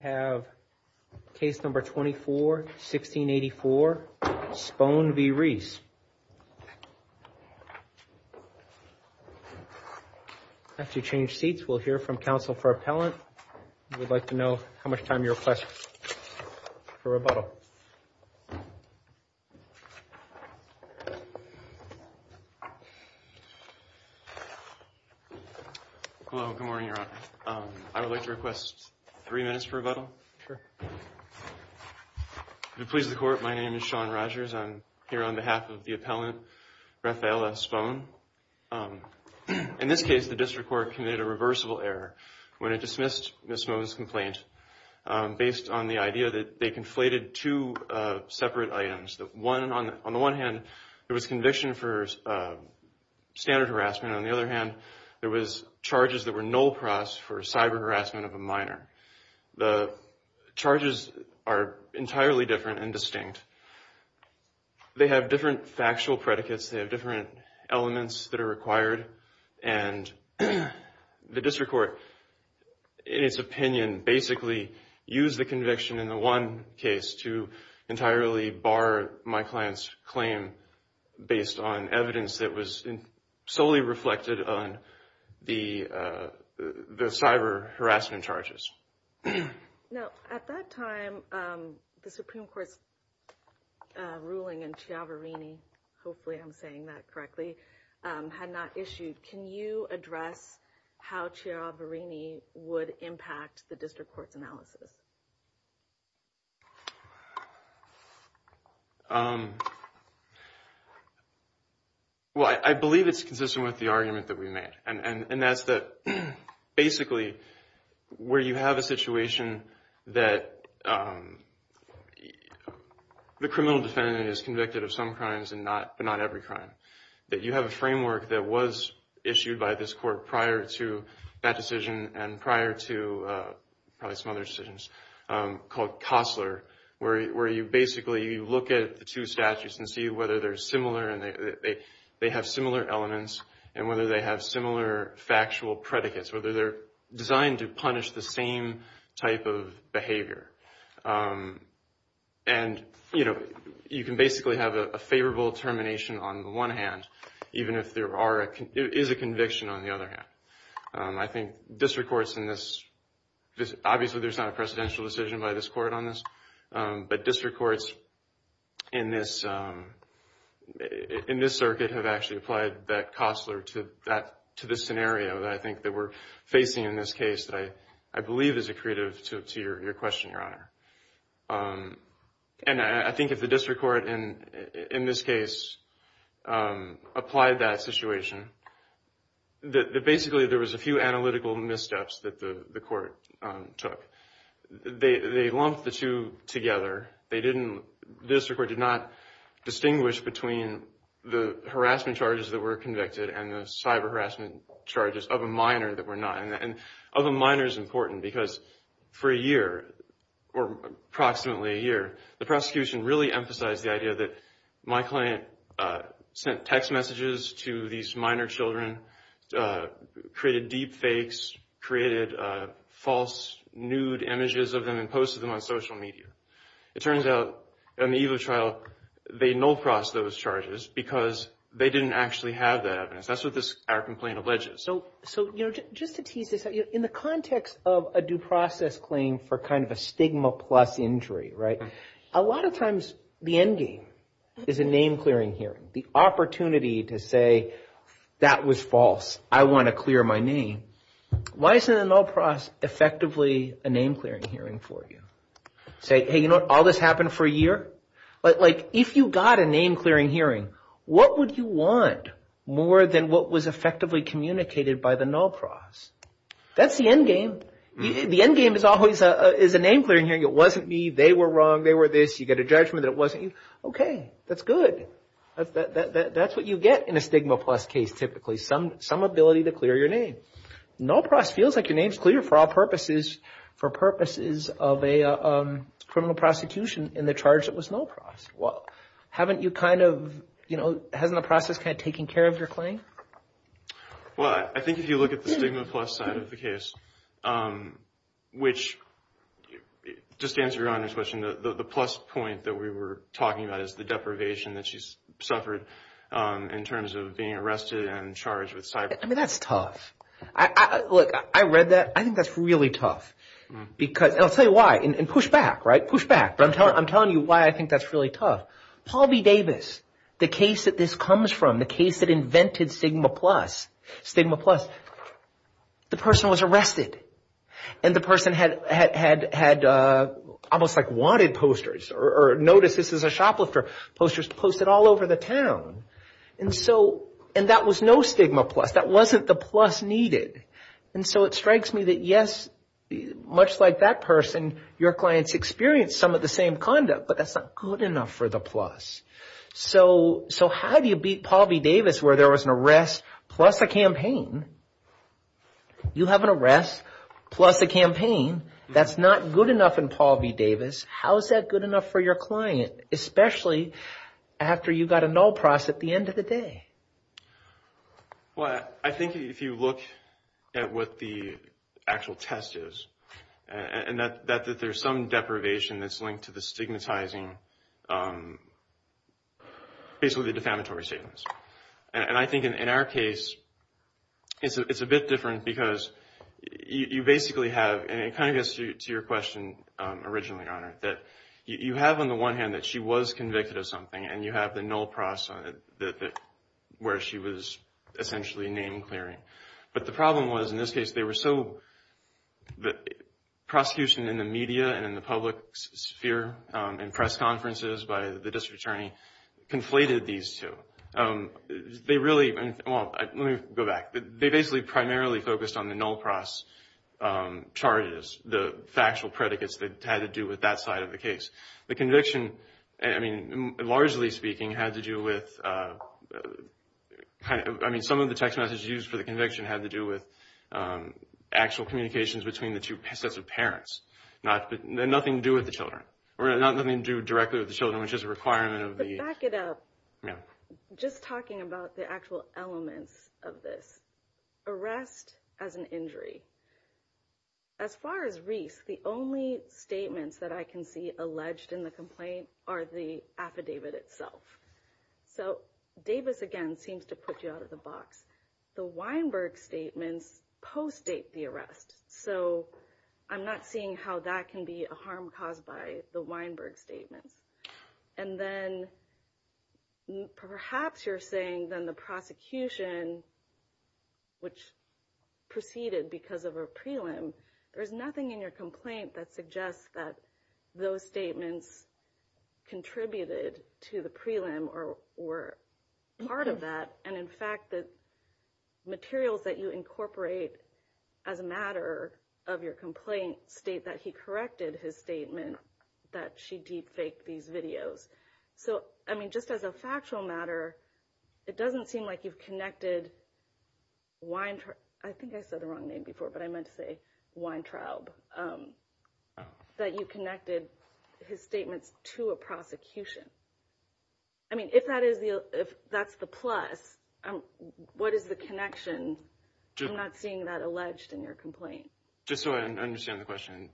have case number 24-1684 Spone v. Reiss. After you change seats, we'll hear from counsel for appellant. We'd like to know how much time you request for rebuttal. Hello, good morning, Your Honor. I would like to request three minutes for rebuttal. If it pleases the court, my name is Sean Rogers. I'm here on behalf of the appellant, Rafaella Spone. In this case, the district court committed a reversible error when it missed Ms. Spone's complaint, based on the idea that they conflated two separate items. On the one hand, there was conviction for standard harassment. On the other hand, there was charges that were null pros for cyber harassment of a minor. The charges are entirely different and distinct. They have different factual predicates. They have different elements that are required. The district court, in its opinion, basically used the conviction in the one case to entirely bar my client's claim, based on evidence that was solely reflected on the cyber harassment charges. Now, at that time, the Supreme Court's ruling in Chiaverini, hopefully I'm saying that correctly, had not issued. Can you address how Chiaverini would impact the district court's analysis? Well, I believe it's consistent with the argument that we made. And that's that, basically, where you have a situation that the criminal defendant is convicted of some crimes, but not every crime. That you have a framework that was issued by this court prior to that decision, and prior to probably some other decisions, called Kossler, where you basically look at the two statutes and see whether they're similar, and they have similar elements, and whether they have similar factual predicates. Whether they're designed to punish the same type of behavior. And, you know, you can basically have a favorable termination on the one hand, even if there is a conviction on the other hand. I think district courts in this, obviously there's not a precedential decision by this court on this, but district courts in this circuit have actually applied that Kossler to this scenario that I think that we're facing in this case that I believe is accretive to your question, Your Honor. And I think if the district court in this case applied that situation, that basically there was a few analytical missteps that the court took. They lumped the two together. They didn't, the district court did not distinguish between the harassment charges that were convicted and the cyber harassment charges of a minor that were not. And of a minor is important because for a year, or approximately a year, the prosecution really emphasized the idea that my client sent text messages to these minor children, created deep fakes, created false nude images of them, and posted them on social media. It turns out, on the eve of the trial, they no-crossed those charges because they didn't actually have that evidence. That's what our complaint alleges. So just to tease this out, in the context of a due process claim for kind of a stigma plus injury, right? A lot of times the end game is a name clearing hearing. The opportunity to say, that was false. I want to clear my name. Why isn't a no-cross effectively a name clearing hearing? Has this happened for a year? Like, if you got a name clearing hearing, what would you want more than what was effectively communicated by the no-cross? That's the end game. The end game is always a name clearing hearing. It wasn't me. They were wrong. They were this. You get a judgment that it wasn't you. Okay, that's good. That's what you get in a stigma plus case, typically. Some ability to clear your name. No-cross feels like your in the charge that was no-cross. Well, haven't you kind of, you know, hasn't the process kind of taken care of your claim? Well, I think if you look at the stigma plus side of the case, which, just to answer your Honor's question, the plus point that we were talking about is the deprivation that she suffered in terms of being arrested and charged with cybercrime. I mean, that's tough. Look, I read that. I think that's really tough because, and I'll give you feedback, but I'm telling you why I think that's really tough. Paul B. Davis, the case that this comes from, the case that invented stigma plus, stigma plus, the person was arrested and the person had almost like wanted posters or noticed this is a shoplifter posters posted all over the town. And so, and that was no stigma plus. That wasn't the plus needed. And so it strikes me that yes, much like that person, your client's experience some of the same conduct, but that's not good enough for the plus. So how do you beat Paul B. Davis where there was an arrest plus a campaign? You have an arrest plus a campaign. That's not good enough in Paul B. Davis. How is that good enough for your client, especially after you got a null process at the end of the day? Well, I think if you look at what the actual test is and that there's some deprivation that's linked to the stigmatizing, basically the defamatory statements. And I think in our case, it's a bit different because you basically have, and it kind of gets to your question originally, Your Honor, that you have on the one hand that she was convicted of something and you have the null process on it where she was essentially name clearing. But the problem was in this case, they were so, the prosecution in the media and in the public sphere and press conferences by the district attorney conflated these two. They really, well, let me go back. They basically primarily focused on the null process charges, the factual predicates that had to do with that side of the case. The conviction, I mean, the conviction had to do with actual communications between the two sets of parents. Nothing to do with the children, or nothing to do directly with the children, which is a requirement of the- But back it up. Yeah. Just talking about the actual elements of this. Arrest as an injury. As far as Reese, the only statements that I can see alleged in the complaint are the affidavit itself. So Davis, again, seems to put you out of the box. The Weinberg statements post-date the arrest. So I'm not seeing how that can be a harm caused by the Weinberg statements. And then perhaps you're saying then the prosecution, which proceeded because of a prelim, there's nothing in your complaint that suggests that those statements contributed to the prelim or were part of that. And in fact, the materials that you incorporate as a matter of your complaint state that he corrected his statement that she deep faked these videos. So, I mean, just as a factual matter, it doesn't seem like you've connected Wein- I think I said the wrong name before, but I meant to say Weintraub, that you connected his statements to a prosecution. I mean, if that's the plus, what is the connection? I'm not seeing that alleged in your complaint. Just so I understand the question.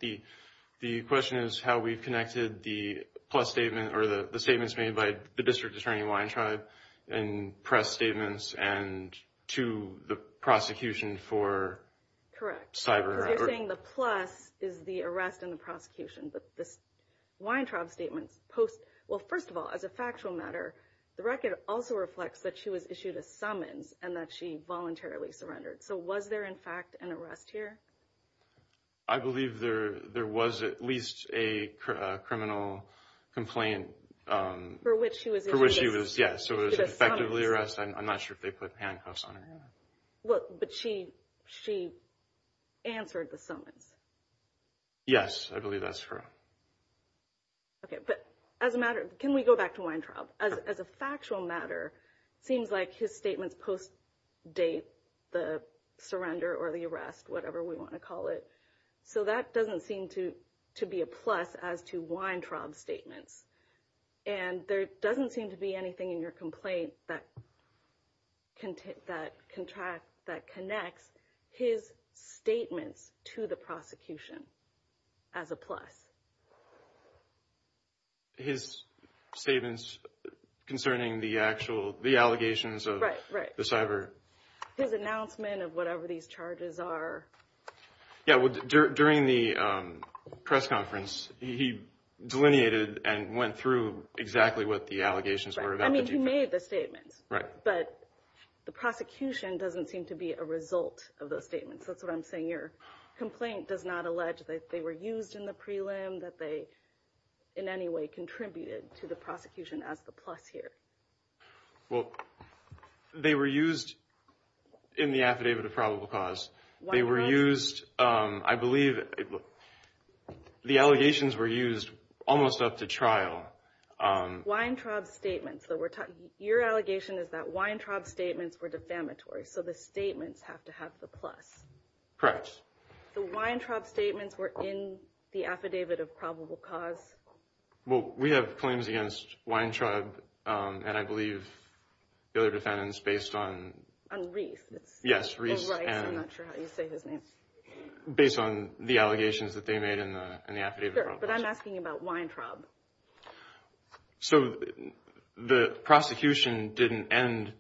The question is how we've connected the plus statement or the statements made by the district attorney Weintraub in press statements and to the prosecution for cyber. Correct. Because you're saying the plus is the arrest and the prosecution, but this Weintraub statements post, well, first of all, as a factual matter, the record also reflects that she was issued a summons and that she voluntarily surrendered. So was there in fact an arrest here? I believe there was at least a criminal complaint. For which she was issued a summons. For which she was, yes. So it was effectively arrested. I'm not sure. But she answered the summons. Yes, I believe that's true. Okay. But as a matter, can we go back to Weintraub? As a factual matter, it seems like his statements post date the surrender or the arrest, whatever we want to call it. So that doesn't seem to be a plus as to Weintraub's statements. And there doesn't seem to be anything in your complaint that connects his statements to the prosecution as a plus. His statements concerning the actual, the allegations of the cyber. His announcement of whatever these charges are. Yeah, well, during the press conference, he delineated and went through exactly what the allegations were. I mean, he made the statements. Right. But the prosecution doesn't seem to be a result of those statements. That's what I'm saying. Your complaint does not allege that they were used in the prelim, that they in any way contributed to the prosecution as the plus here. Well, they were used in the affidavit of probable cause. They were used, I believe, the allegations were used almost up to trial. Weintraub's statements. Your allegation is that Weintraub's statements were defamatory. So the statements have to have the plus. Correct. The Weintraub's statements were in the affidavit of probable cause. Well, we have claims against Weintraub and I believe the other defendants based on. On Reese. Yes, Reese. I'm not sure how you say his name. Based on the allegations that they made in the affidavit of probable cause. Sure, but I'm asking about Weintraub. So the prosecution didn't end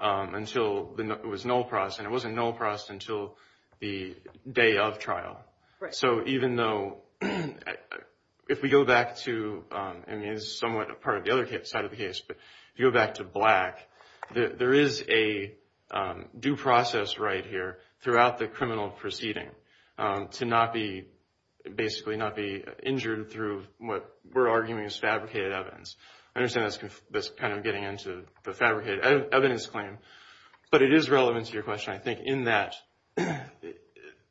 until it was null pros and it wasn't null pros until the day of trial. Right. So even though if we go back to, I mean, it's somewhat a part of the other side of the case, if you go back to Black, there is a due process right here throughout the criminal proceeding to not be basically not be injured through what we're arguing is fabricated evidence. I understand that's kind of getting into the fabricated evidence claim, but it is relevant to your question. I think in that, the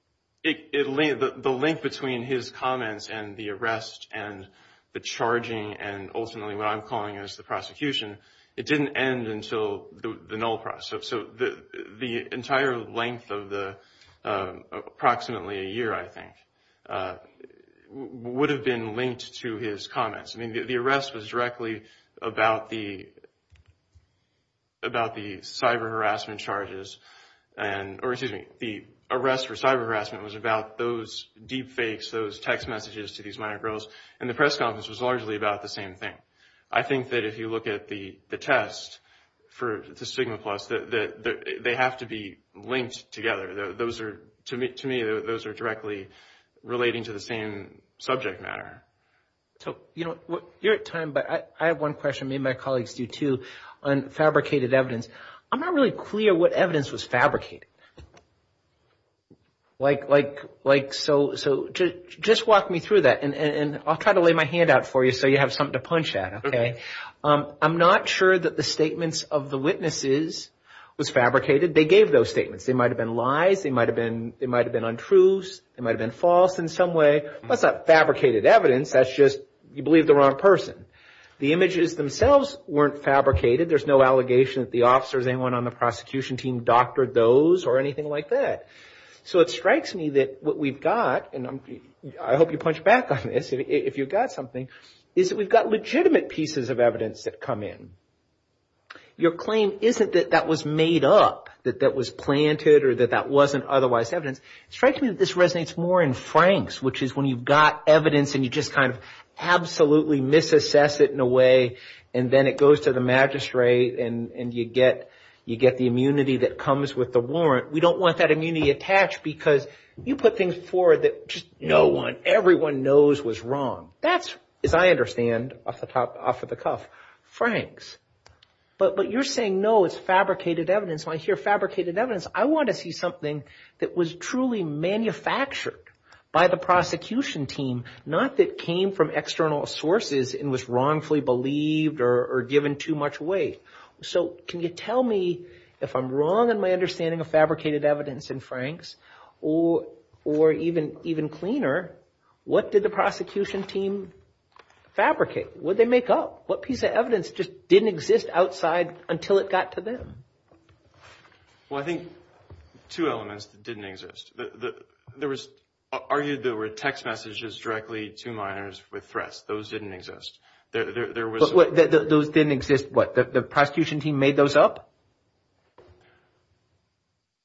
link between his comments and the arrest and the charging and ultimately what I'm calling is the prosecution. It didn't end until the null process. So the entire length of the approximately a year, I think, would have been linked to his comments. I mean, the arrest was directly about the about the cyber harassment charges and or excuse me, the arrest for cyber harassment was about those deep fakes, those text messages to these minor girls. And the press conference was largely about the same thing. I think that if you look at the test for the Sigma Plus, that they have to be linked together. Those are, to me, those are directly relating to the same subject matter. So, you know, you're at time, but I have one question, maybe my colleagues do too, on fabricated evidence. I'm not really clear what evidence was fabricated. Like, so just walk me through that and I'll try to lay my hand out for you so you have something to punch at, okay? I'm not sure that the statements of the witnesses was fabricated. They gave those statements. They might have been lies. They might have been untruths. They might have been false in some way. That's not fabricated evidence. That's just you believe the wrong person. The images themselves weren't fabricated. There's no allegation that the officers, anyone on the prosecution team doctored those or anything like that. So it strikes me that what we've got, and I hope you punch back on this if you've got something, is that we've got legitimate pieces of evidence that come in. Your claim isn't that that was made up, that that was planted or that that wasn't otherwise evidence. It strikes me that this resonates more in Franks, which is when you've got evidence and you just kind of absolutely misassess it in a way and then it goes to the magistrate and you get the immunity that comes with the warrant. We don't want that immunity attached because you put things forward that just no one, everyone knows was wrong. That's, as I understand, off the cuff. Franks, but you're saying no, it's fabricated evidence. When I hear fabricated evidence, I want to see something that was truly manufactured by the team, not that came from external sources and was wrongfully believed or given too much weight. So can you tell me if I'm wrong in my understanding of fabricated evidence in Franks or even cleaner, what did the prosecution team fabricate? What did they make up? What piece of evidence just didn't exist outside until it got to them? Well, I think two elements that exist. There was argued there were text messages directly to minors with threats. Those didn't exist. There was those didn't exist. But the prosecution team made those up.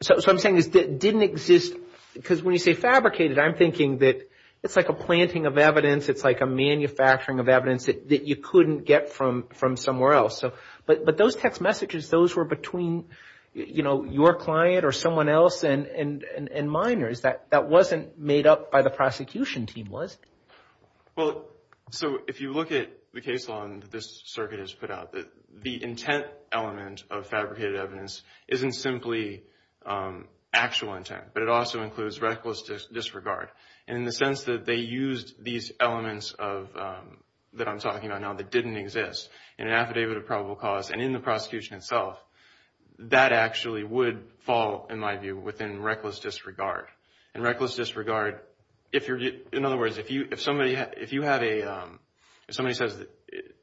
So I'm saying this didn't exist because when you say fabricated, I'm thinking that it's like a planting of evidence. It's like a manufacturing of evidence that you couldn't get from from somewhere else. So but those text messages, those were between, you know, your client or someone else and minors that that wasn't made up by the prosecution team, was it? Well, so if you look at the case law that this circuit has put out, the intent element of fabricated evidence isn't simply actual intent, but it also includes reckless disregard in the sense that they used these elements of that I'm talking about now that didn't exist in an fall, in my view, within reckless disregard and reckless disregard. If you're in other words, if you if somebody if you have a somebody says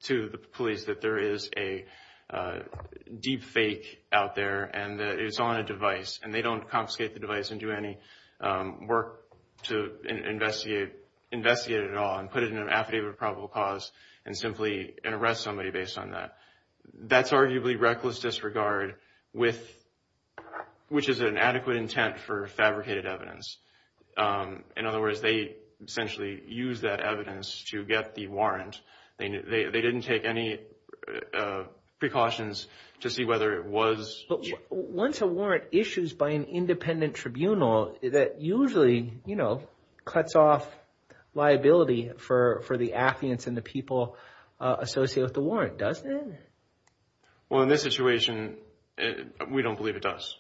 to the police that there is a deep fake out there and it's on a device and they don't confiscate the device and do any work to investigate, investigate it all and put it in an affidavit of probable cause and simply arrest somebody based on that. That's arguably reckless disregard with which is an adequate intent for fabricated evidence. In other words, they essentially use that evidence to get the warrant. They didn't take any precautions to see whether it was. Once a warrant issues by an independent tribunal, that usually, you know, cuts off liability for the affidavits and the people associated with the warrant, doesn't it? Well, in this situation, we don't believe it does,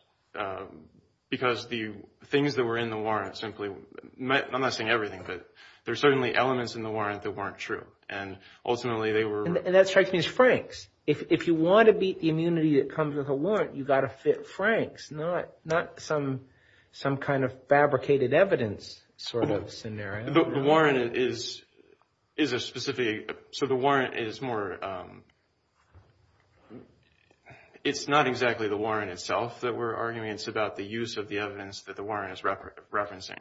because the things that were in the warrant simply met. I'm not saying everything, but there are certainly elements in the warrant that weren't true. And ultimately, they were. And that strikes me as Frank's. If you want to beat the immunity that comes with a warrant, you've got to fit Frank's not not some some kind of fabricated evidence sort of scenario. The warrant is is a specific. So the warrant is more. It's not exactly the warrant itself that we're arguing. It's about the use of the evidence that the warrant is referencing.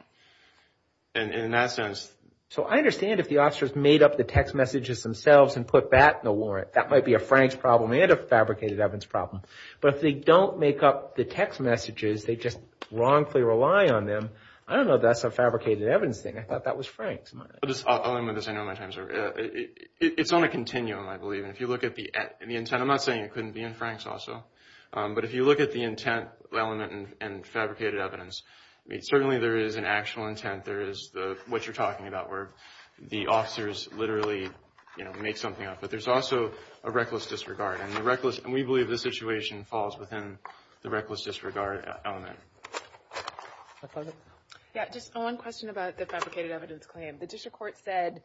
And in that sense. So I understand if the officers made up the text messages themselves and put that in the warrant, that might be a Frank's problem and a fabricated evidence problem. But if they don't make up the text messages, they just wrongfully rely on them. I don't know if that's a fabricated evidence thing. I thought that was Frank's. It's on a continuum, I believe. And if you look at the intent, I'm not saying it couldn't be in Frank's also. But if you look at the intent element and fabricated evidence, certainly there is an actual intent. There is the what you're talking about, where the officers literally make something up. But there's also a reckless disregard and the reckless. And we believe the situation falls within the reckless disregard element. Yeah, just one question about the fabricated evidence claim. The district court said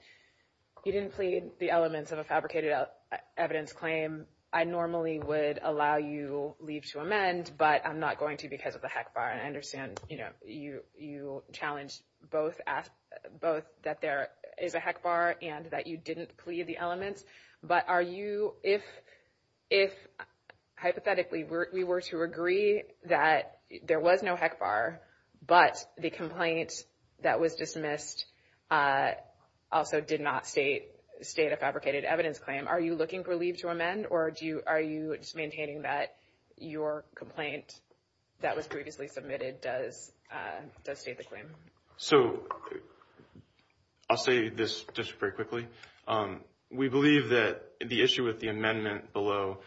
you didn't plead the elements of a fabricated evidence claim. I normally would allow you leave to amend, but I'm not going to because of the heck bar. And I understand, you know, you you challenged both both that there is a heck bar and that you didn't plead the elements. But if hypothetically we were to agree that there was no heck bar, but the complaint that was dismissed also did not state a fabricated evidence claim, are you looking for leave to amend? Or are you just maintaining that your complaint that was previously submitted does state the claim? So I'll say this just very quickly. We believe that the issue with the amendment below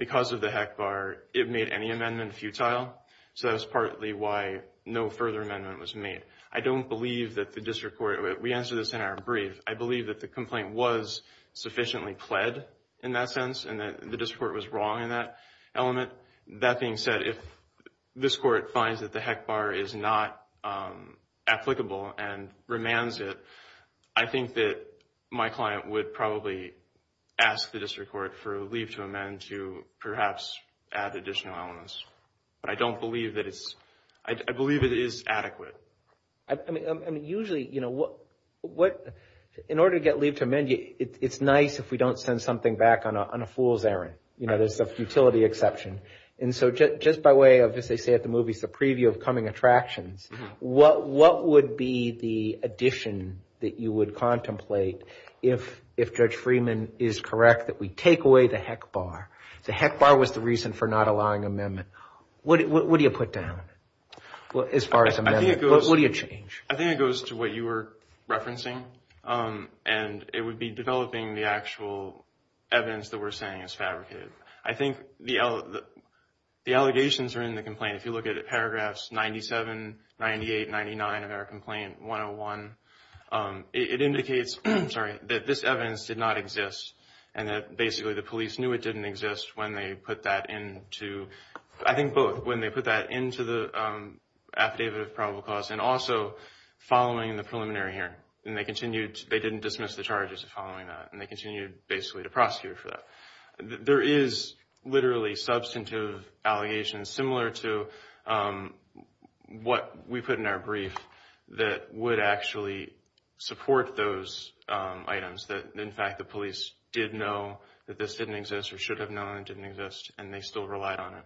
because of the heck bar, it made any amendment futile. So that's partly why no further amendment was made. I don't believe that the district court, we answered this in our brief, I believe that the complaint was sufficiently pled in that sense and that the district court was wrong in that element. That being said, if this court finds that the heck bar is not applicable and remands it, I think that my client would probably ask the district court for leave to amend to perhaps add additional elements. But I don't believe that it's, I believe it is adequate. I mean usually, you know, what in order to get leave to amend, it's nice if we don't send something back on a fool's errand. You know, there's a futility exception. And so just by way of, as they say at the movies, the preview of coming attractions, what would be the addition that you would contemplate if Judge Freeman is correct that we take away the heck bar? The heck bar was the reason for not allowing amendment. What do you put down as far as amendment? What do you change? I think it goes to what you were referencing and it would be developing the actual evidence that we're saying is fabricated. I think the allegations are in the complaint. If you look at paragraphs 97, 98, 99 of our complaint 101, it indicates, I'm sorry, that this evidence did not exist and that basically the police knew it didn't exist when they put that into, I think both, when they put that into the affidavit of probable cause and also following the preliminary hearing. And they continued, they didn't dismiss the charges of following that and they continued basically to prosecute for that. There is literally substantive allegations similar to what we put in our brief that would actually support those items that, in fact, the police did know that this didn't exist or should have known it didn't exist and they still relied on it.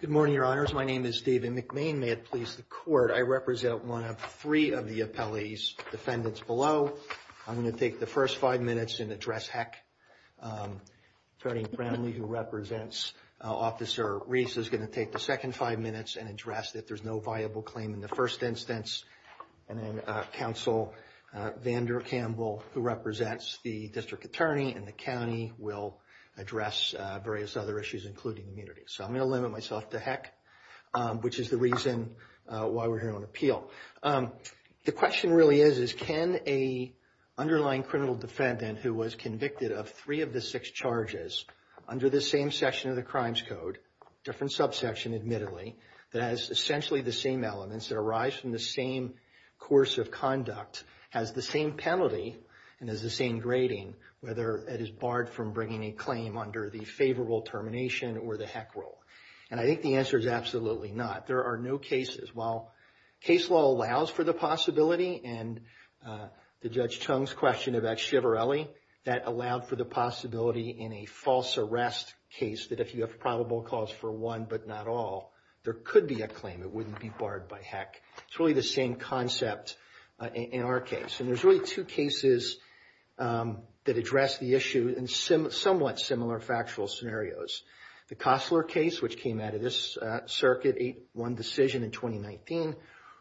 Good morning, your honors. My name is David McMain. May it please the court, I represent one of three of the appellee's defendants below. I'm going to take the first five minutes and address Heck. Attorney Brownlee, who represents Officer Reese, is going to take the second five minutes and address that there's no viable claim in the first instance. And then Counsel Vander Campbell, who represents the district attorney in the county, will address various other issues, including immunity. So I'm going to limit myself to Heck, which is the reason why we're here on appeal. The question really is, is can a underlying criminal defendant who was convicted of three of the six charges under the same section of the Crimes Code, different subsection admittedly, that has essentially the same elements that arise from the same course of conduct, has the same penalty and has the same grading, whether it is barred from bringing a claim under the favorable termination or the Heck rule? And I think the answer is absolutely not. There are no cases. While case law allows for the possibility, and the Judge Chung's question about Chivarelli, that allowed for the possibility in a false arrest case that if you have probable cause for one but not all, there could be a claim. It wouldn't be barred by Heck. It's really the same concept in our case. And there's really two cases that address the issue in somewhat similar factual scenarios. The Costler case, which came out of this circuit, one decision in 2019,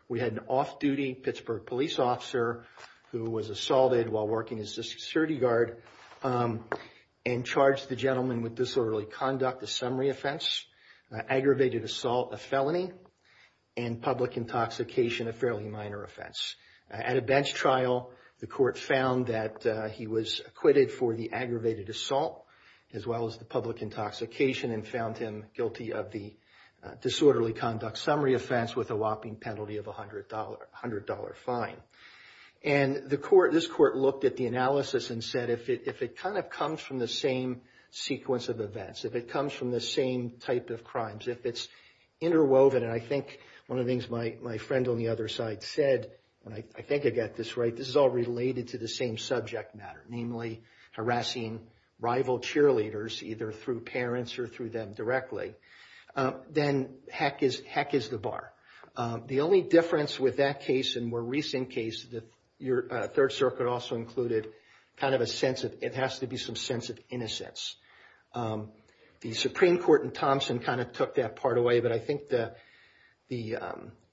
we had an off-duty Pittsburgh police officer who was assaulted while working as a security guard and charged the gentleman with disorderly conduct, a summary offense, aggravated assault, a felony, and public intoxication, a fairly minor offense. At a bench trial, the court found that he was acquitted for the aggravated assault, as well as the public intoxication, and found him guilty of the disorderly conduct summary offense with a whopping penalty of $100 fine. And this court looked at the analysis and said, if it kind of comes from the same sequence of events, if it comes from the same type of crimes, if it's interwoven, and I think one of the things my friend on the other side said, and I think I got this right, this is all related to the same subject matter, namely harassing rival cheerleaders, either through parents or through them directly, then heck is the bar. The only difference with that case and more recent case that your Third Circuit also included, kind of a sense of, it has to be some sense of innocence. The Supreme Court in Thompson kind of took that part away, but I think the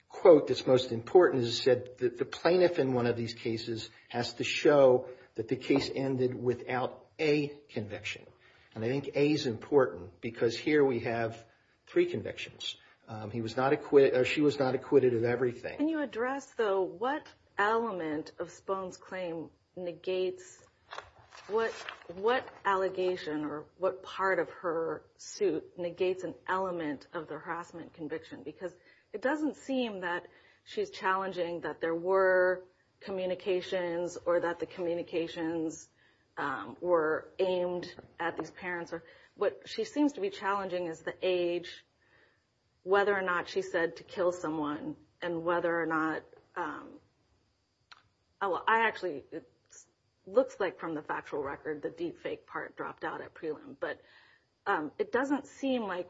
quote that's most important is said that the plaintiff in one of these cases has to show that the case ended without a conviction. And I think a is important because here we have three convictions. He was not acquitted, or she was not acquitted of everything. Can you address though, what element of Spohn's claim negates, what allegation or what part of her suit negates an element of the harassment conviction? Because it doesn't seem that she's challenging that there were communications or that the communications were aimed at these parents. What she seems to be challenging is the age, whether or not she said to kill someone, and whether or not, well I actually, it looks like from the factual record, the deep fake part dropped out at prelim, but it doesn't seem like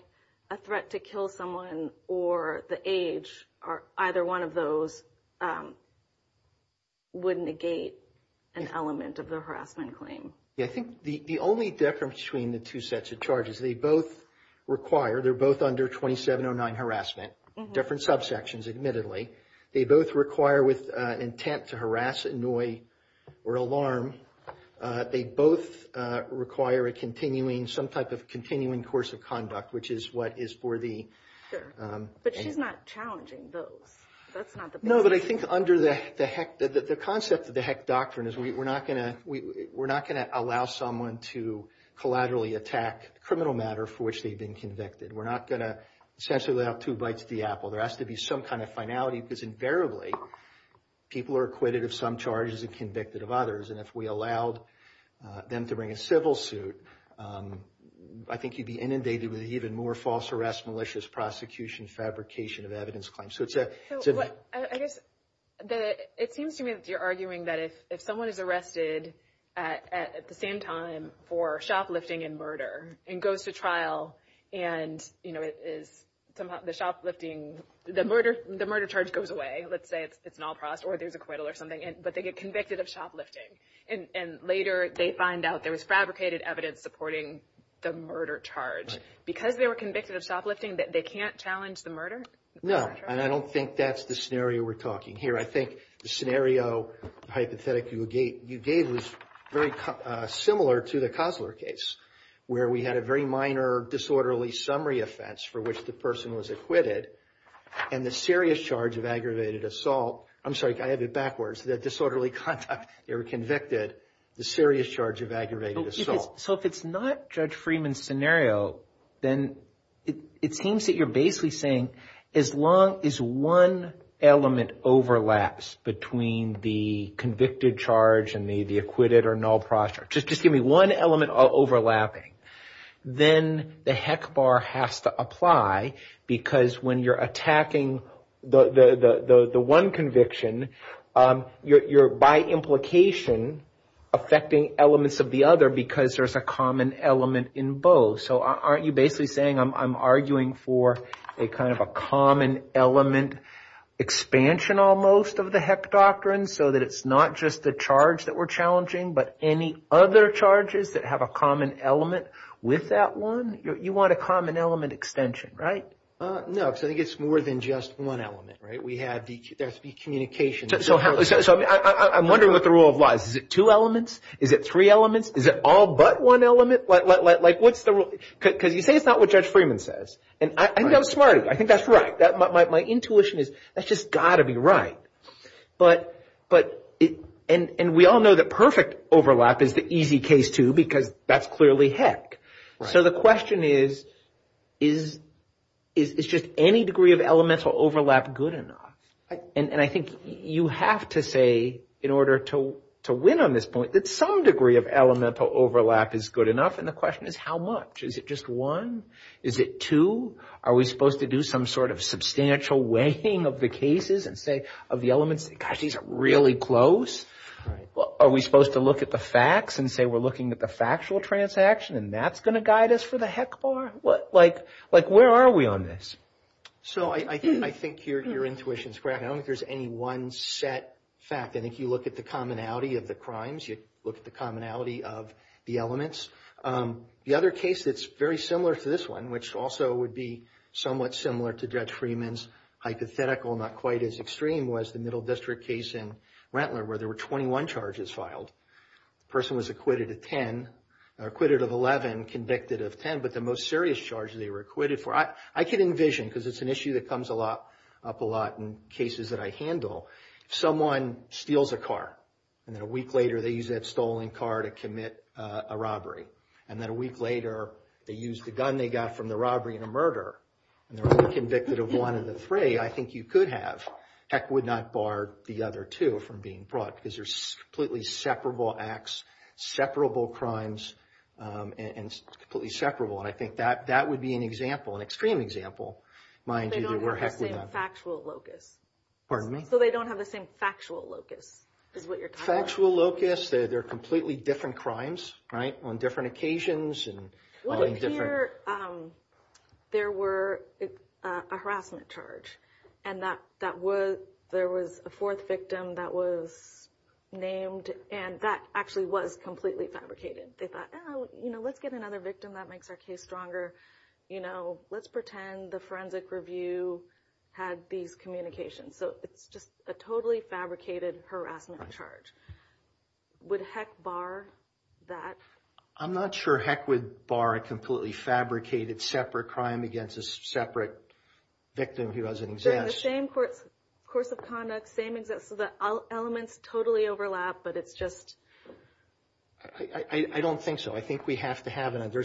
a threat to kill someone or the age or either one of those would negate an element of the harassment claim. Yeah, I think the only difference between the two sets of charges, they both require, they're both under 2709 harassment, different subsections admittedly. They both require with intent to harass, annoy, or alarm. They both require a continuing, some type of continuing course of conduct, which is what is for the... Sure, but she's not challenging those. That's not the point. No, but I think under the HEC, the concept of the HEC doctrine is we're not going to, we're not going to allow someone to collaterally attack criminal matter for which they've been convicted. We're not going to essentially lay out two bites to the apple. There has to be some kind of finality because invariably, people are acquitted of some charges and convicted of others. And if we allowed them to bring a civil suit, I think you'd be inundated with even more false arrest, malicious prosecution, fabrication of evidence claims. So it's a... I guess that it seems to me that you're arguing that if someone is arrested at the same time for shoplifting and murder and goes to trial and it is somehow the shoplifting, the murder charge goes away. Let's say it's an all-prost or there's acquittal or something, but they get convicted of shoplifting. And later, they find out there was fabricated evidence supporting the murder charge. Because they were convicted of shoplifting, they can't challenge the murder? No, and I don't think that's the scenario we're talking here. I think the scenario, the hypothetic you gave was very similar to the Kosler case, where we had a very minor disorderly summary offense for which the person was acquitted and the serious charge of aggravated assault. I'm sorry, I have it backwards. The disorderly conduct, they were convicted, the serious charge of aggravated assault. So if it's not Judge Freeman's scenario, then it seems that you're basically saying as long as one element overlaps between the convicted charge and the acquitted or null prostrate, just give me one element overlapping, then the heck bar has to apply because when you're attacking the one conviction, you're by implication affecting elements of the other because there's a common element in both. So aren't you basically saying I'm arguing for a kind of a common element expansion almost of the heck doctrine so that it's not just the charge that we're challenging, but any other charges that have a common element with that one? You want a common element extension, right? No, because I think it's more than just one element, right? There has to be communication. So I'm wondering what the rule of law is. Is it two elements? Is it three elements? Is it all but one element? Like what's the rule? Because you say it's not what Judge Freeman says, and I think I'm smart. I think that's right. My intuition is that's just got to be right. And we all know that perfect overlap is the easy case too because that's clearly heck. So the question is, is just any degree of elemental overlap good enough? And I think you have to say in order to win on this point that some degree of elemental overlap is good enough, and the question is how much? Is it just one? Is it two? Are we supposed to do some sort of substantial weighing of the cases and say of the elements, gosh, these are really close? Are we supposed to look at the facts and say we're looking at the factual transaction and that's going to guide us for the heck bar? Like where are we on this? So I think your intuition is correct. I don't think there's any one set fact. I think you look at the commonality of the crimes. You look at the commonality of the elements. The other case that's very similar to this one, which also would be somewhat similar to Judge Freeman's hypothetical, not quite as extreme, was the Middle District case in Rentler where there were 21 charges filed. The person was acquitted of 10, acquitted of 11, convicted of 10, but the most serious charges they were acquitted for, I can envision because it's an issue that comes up a lot in cases that I handle. If someone steals a car and then a week later they use that stolen car to commit a robbery and then a week later they use the gun they got from the robbery in a murder and they're only convicted of one of the three, I think you could have, heck would not bar the other two from being brought because they're completely separable acts, separable crimes, and completely separable. And I think that would be an example, an extreme example, mind you, where heck would not. They don't have the same factual locus. Pardon me? So they don't have the same factual locus is what you're talking about. Factual locus, they're completely different crimes, right, on different occasions and What if here there were a harassment charge and that was, there was a fourth victim that was named and that actually was completely fabricated. They thought, oh, you know, let's get another victim that makes our case stronger, you know, let's pretend the forensic review had these communications. So it's just a totally fabricated harassment charge. Would heck bar that? I'm not sure heck would bar a completely fabricated separate crime against a separate victim who has an exam. They're the same course of conduct, same exact, so the elements totally overlap but it's just. I don't think so. I think we have to have another,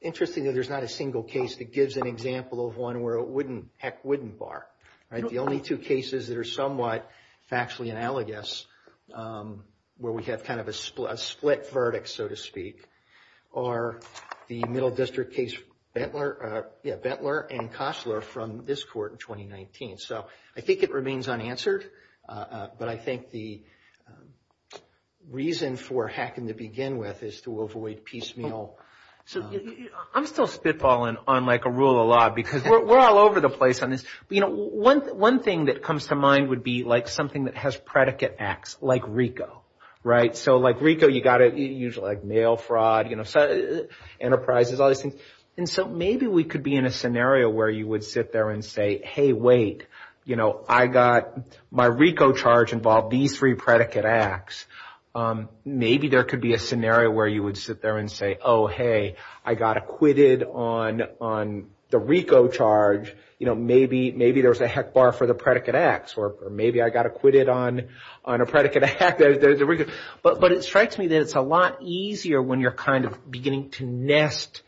interestingly, there's not a single case that gives an example of one where it wouldn't, heck wouldn't bar, right? The only two cases that are somewhat factually analogous, where we have kind of a split verdict, so to speak, are the Middle District case, Bentler and Kossler from this court in 2019. So I think it remains unanswered, but I think the the reason for hecking to begin with is to avoid piecemeal. So I'm still spitballing on like a rule of law because we're all over the place on this, but you know, one thing that comes to mind would be like something that has predicate acts, like RICO, right? So like RICO, you got it usually like mail fraud, you know, enterprises, all these things. And so maybe we could be in a scenario where you would sit there and say, hey, wait, you know, I got my RICO charge involved these three predicate acts. Maybe there could be a scenario where you would sit there and say, oh, hey, I got acquitted on the RICO charge, you know, maybe there's a heck bar for the predicate acts or maybe I got acquitted on a predicate act. But it strikes me that it's a lot easier when you're kind of beginning to nest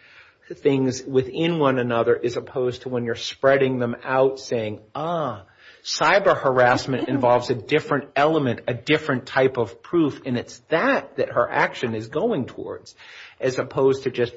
things within one another as opposed to when you're spreading them out saying, ah, cyber harassment involves a different element, a different type of proof. And it's that that her action is going towards as opposed to just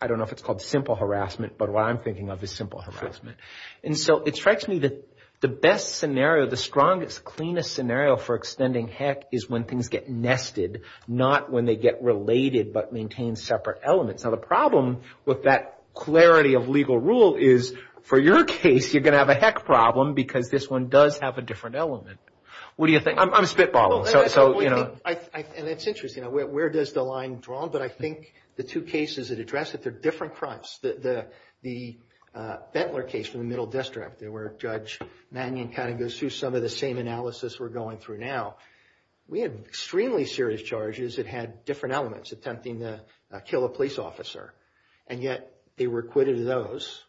I don't know if it's called simple harassment, but what I'm thinking of is simple harassment. And so it strikes me that the best scenario, the strongest, cleanest scenario for extending heck is when things get nested, not when they get related, but maintain separate elements. Now, the problem with that clarity of legal rule is for your case, you're going to have a heck problem because this one does have a different element. What do you think? I'm spitballing. So, you know. And it's interesting. Where does the line draw? But I think the two cases that address it, they're different crimes. The Bentler case from the Middle District, where Judge Mannion kind of goes through some of the same analysis we're going through now. We had extremely serious charges that had different elements attempting to kill a police officer. And yet they were acquitted of those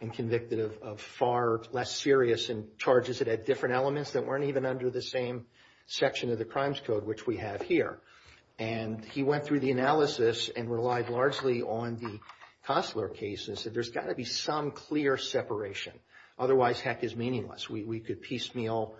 and convicted of far less serious and charges that had different elements that weren't even under the same section of the Crimes Code, which we have here. And he went through the analysis and relied largely on the Costler case and said there's got to be some clear separation. Otherwise, heck is meaningless. We could piecemeal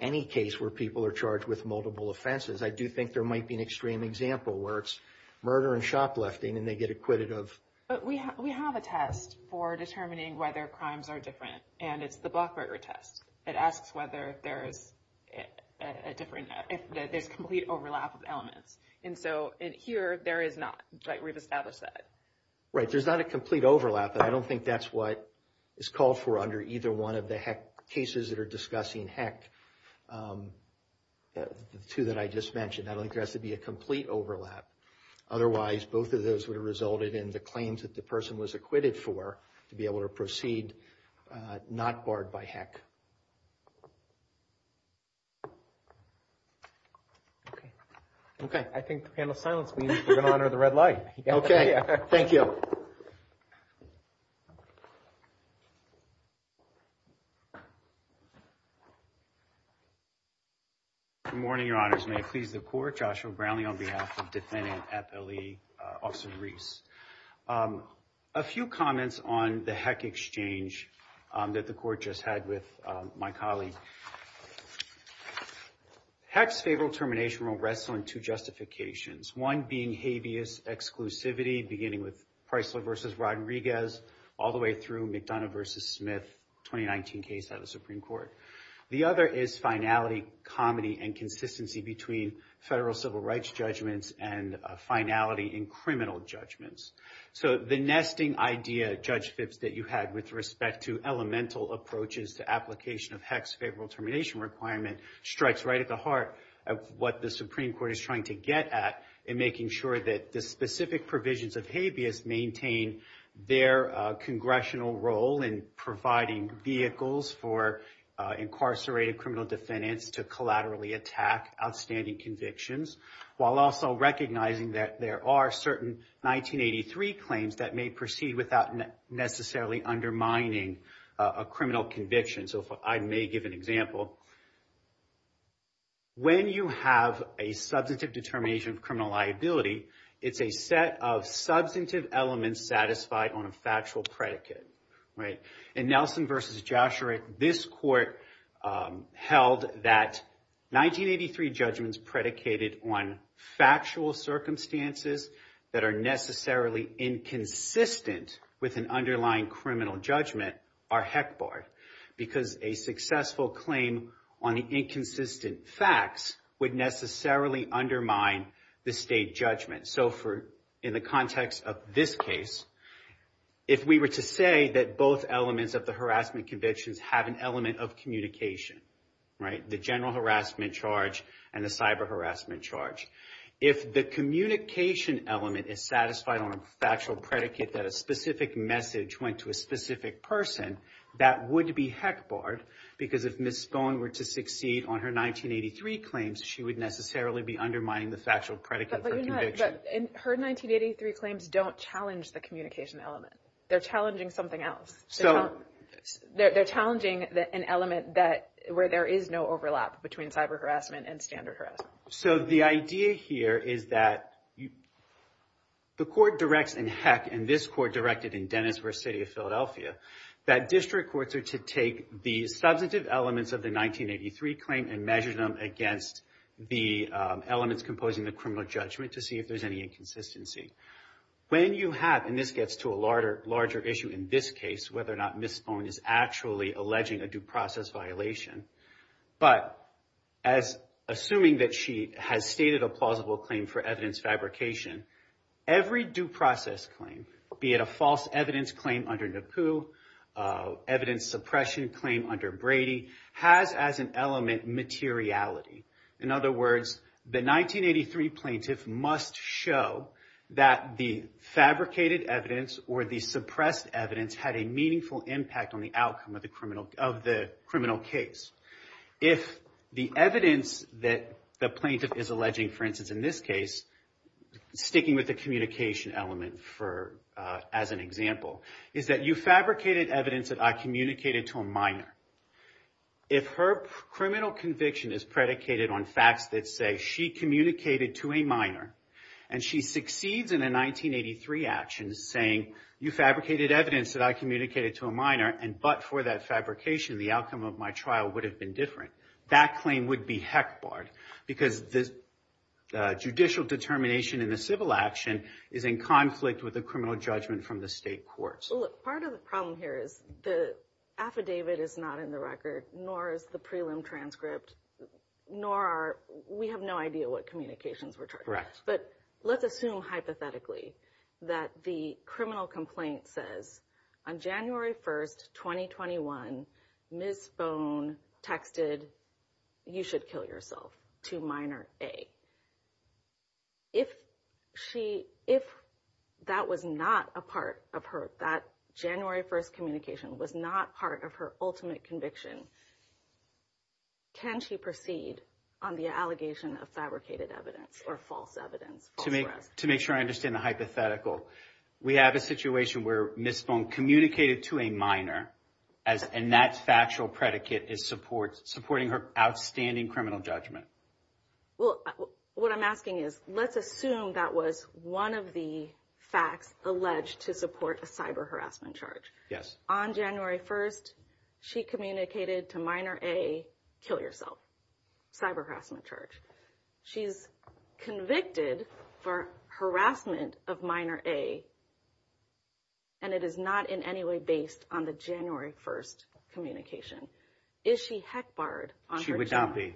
any case where people are charged with multiple offenses. I do think there might be an extreme example where it's murder and shoplifting and they get acquitted of... But we have a test for determining whether crimes are different. And it's the Blackberger test. It asks whether there is a different... if there's complete overlap of elements. And so, here, there is not. We've established that. Right. There's not a complete overlap, but I don't think that's what is called for under either one of the heck cases that are discussing heck, the two that I just mentioned. I don't think there has to be a complete overlap. Otherwise, both of those would have resulted in the claims that the person was acquitted for to be able to proceed not barred by heck. Okay. Okay. I think the panel's silence means we're going to honor the red light. Okay. Thank you. Good morning, your honors. May it please the court, Joshua Brownlee on behalf of Defendant FLE, Officer Reese. A few comments on the heck exchange that the court just had with my colleague. Heck's favorable termination will rest on two justifications. One being habeas exclusivity, beginning with Preissler v. Rodriguez, all the way through McDonough v. Smith, 2019 case at the Supreme Court. The other is finality, comedy, and consistency between federal civil rights judgments and finality in criminal judgments. So, the nesting idea, Judge Phipps, that you had with respect to elemental approaches to application of heck's favorable termination requirement strikes right at the heart of what the Supreme Court's specific provisions of habeas maintain their congressional role in providing vehicles for incarcerated criminal defendants to collaterally attack outstanding convictions, while also recognizing that there are certain 1983 claims that may proceed without necessarily undermining a criminal conviction. So, I may give an example. So, when you have a substantive determination of criminal liability, it's a set of substantive elements satisfied on a factual predicate, right? In Nelson v. Joshua, this court held that 1983 judgments predicated on factual circumstances that are necessarily inconsistent with an underlying criminal judgment are heck barred, because a successful claim on the inconsistent facts would necessarily undermine the state judgment. So, in the context of this case, if we were to say that both elements of the harassment convictions have an element of communication, right, the general harassment charge and the cyber harassment charge, if the communication element is satisfied on a factual predicate that a specific message went to a specific person, that would be heck barred, because if Ms. Spohn were to succeed on her 1983 claims, she would necessarily be undermining the factual predicate for conviction. But her 1983 claims don't challenge the communication element. They're challenging something else. So, they're challenging an element that where there is no overlap between cyber harassment and standard harassment. So, the idea here is that the court directs in heck, and this court directed in Dennisburg City of Philadelphia, that district courts are to take the substantive elements of the 1983 claim and measure them against the elements composing the criminal judgment to see if there's any inconsistency. When you have, and this gets to a larger issue in this case, whether or not Ms. Spohn is actually alleging a due process violation, but as assuming that she has stated a plausible claim for evidence fabrication, every due process claim, be it a false evidence claim under Napoo, evidence suppression claim under Brady, has as an element materiality. In other words, the 1983 plaintiff must show that the fabricated evidence or the suppressed evidence had a meaningful impact on the outcome of the criminal case. If the evidence that the plaintiff is alleging, for instance, in this case, sticking with the communication element as an example, is that you fabricated evidence that I communicated to a minor. If her criminal conviction is predicated on facts that say she communicated to a minor, and she succeeds in a 1983 action saying, you fabricated evidence that I communicated to a minor, and but for that fabrication, the outcome of my trial would have been different. That claim would be heck barred because the judicial determination in the civil action is in conflict with the criminal judgment from the state courts. Well, look, part of the problem here is the affidavit is not in the record, nor is the prelim transcript, nor are, we have no idea what communications were charged. Correct. But let's assume hypothetically that the criminal complaint says, on January 1st, 2021, Ms. Phone texted, you should kill yourself, to minor A. If that was not a part of her, that January 1st communication was not part of her ultimate conviction, can she proceed on the allegation of fabricated evidence or false evidence? To make sure I understand the hypothetical, we have a situation where Ms. Phone communicated to a minor, and that factual predicate is supporting her outstanding criminal judgment. Well, what I'm asking is, let's assume that was one of the facts alleged to support a cyber harassment charge. Yes. On January 1st, she communicated to minor A, kill yourself, cyber harassment charge. She's convicted for harassment of minor A, and it is not in any way based on the January 1st Is she HECBAR-ed? She would not be.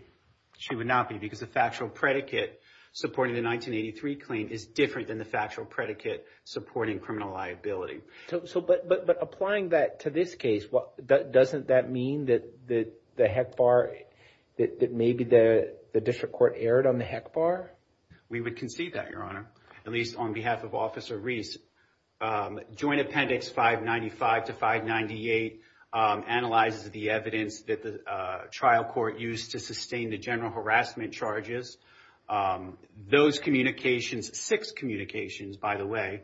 She would not be, because the factual predicate supporting the 1983 claim is different than the factual predicate supporting criminal liability. So, but applying that to this case, doesn't that mean that the HECBAR, that maybe the district court erred on the HECBAR? We would concede that, Your Honor, at least on behalf of Officer Reese. Joint Appendix 595 to 598 analyzes the evidence that the trial court used to sustain the general harassment charges. Those communications, six communications, by the way,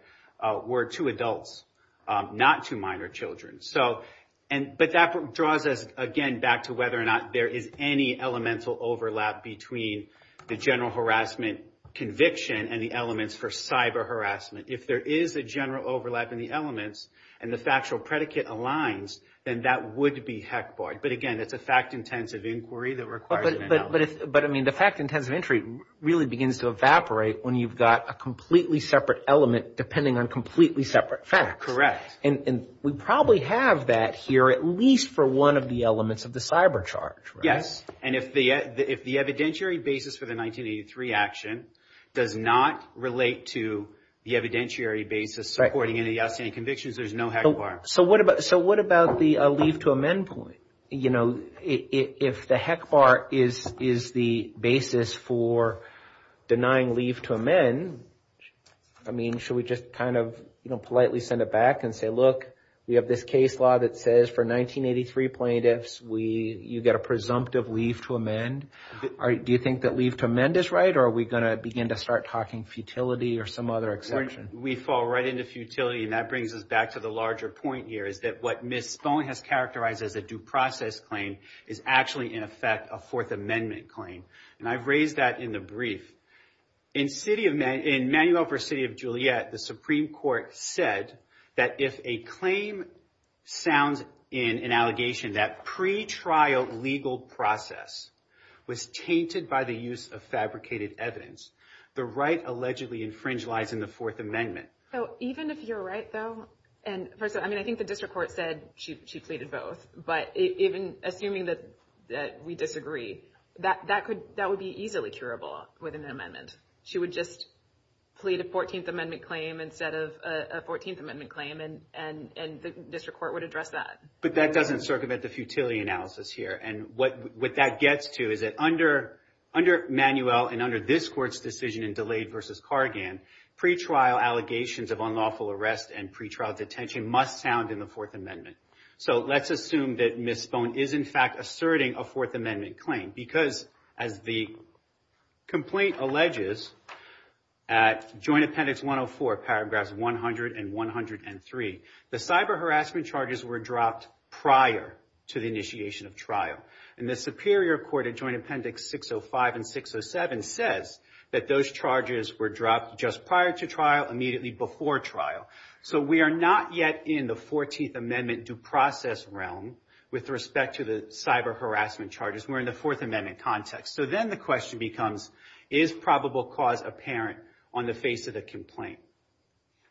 were to adults, not to minor children. So, and, but that draws us again back to whether or not there is any elemental overlap between the general harassment conviction and the elements for cyber harassment. If there is a general overlap in the elements and the factual predicate aligns, then that would be HECBAR-ed. But again, it's a fact-intensive inquiry that requires an analysis. But I mean, the fact-intensive inquiry really begins to evaporate when you've got a completely separate element depending on completely separate facts. Correct. And we probably have that here at least for one of the elements of the cyber charge, right? And if the evidentiary basis for the 1983 action does not relate to the evidentiary basis supporting any of the outstanding convictions, there's no HECBAR. So what about the leave to amend point? You know, if the HECBAR is the basis for denying leave to amend, I mean, should we just kind of, you know, politely send it back and say, look, we have this case law that says for 1983 plaintiffs, you get a presumptive leave to amend. Do you think that leave to amend is right? Or are we going to begin to start talking futility or some other exception? We fall right into futility. And that brings us back to the larger point here is that what Ms. Spohn has characterized as a due process claim is actually, in effect, a Fourth Amendment claim. And I've raised that in the brief. In Manuel versus City of Juliet, the Supreme Court said that if a claim sounds in an allegation that pretrial legal process was tainted by the use of fabricated evidence, the right allegedly infringed lies in the Fourth Amendment. So even if you're right, though, and first of all, I mean, I think the district court said she pleaded both. But even assuming that we disagree, that would be easily curable with an amendment. She would just plead a 14th Amendment claim instead of a 14th Amendment claim, and the district court would address that. But that doesn't circumvent the futility analysis here. And what that gets to is that under Manuel and under this court's decision in DeLay versus Kargan, pretrial allegations of unlawful arrest and pretrial detention must sound in the Fourth Amendment. So let's assume that Ms. Stone is, in fact, asserting a Fourth Amendment claim because as the complaint alleges at Joint Appendix 104, paragraphs 100 and 103, the cyber harassment charges were dropped prior to the initiation of trial. And the Superior Court of Joint Appendix 605 and 607 says that those charges were dropped just prior to trial, immediately before trial. So we are not yet in the 14th Amendment due process realm with respect to the cyber harassment charges. We're in the Fourth Amendment context. So then the question becomes, is probable cause apparent on the face of the complaint?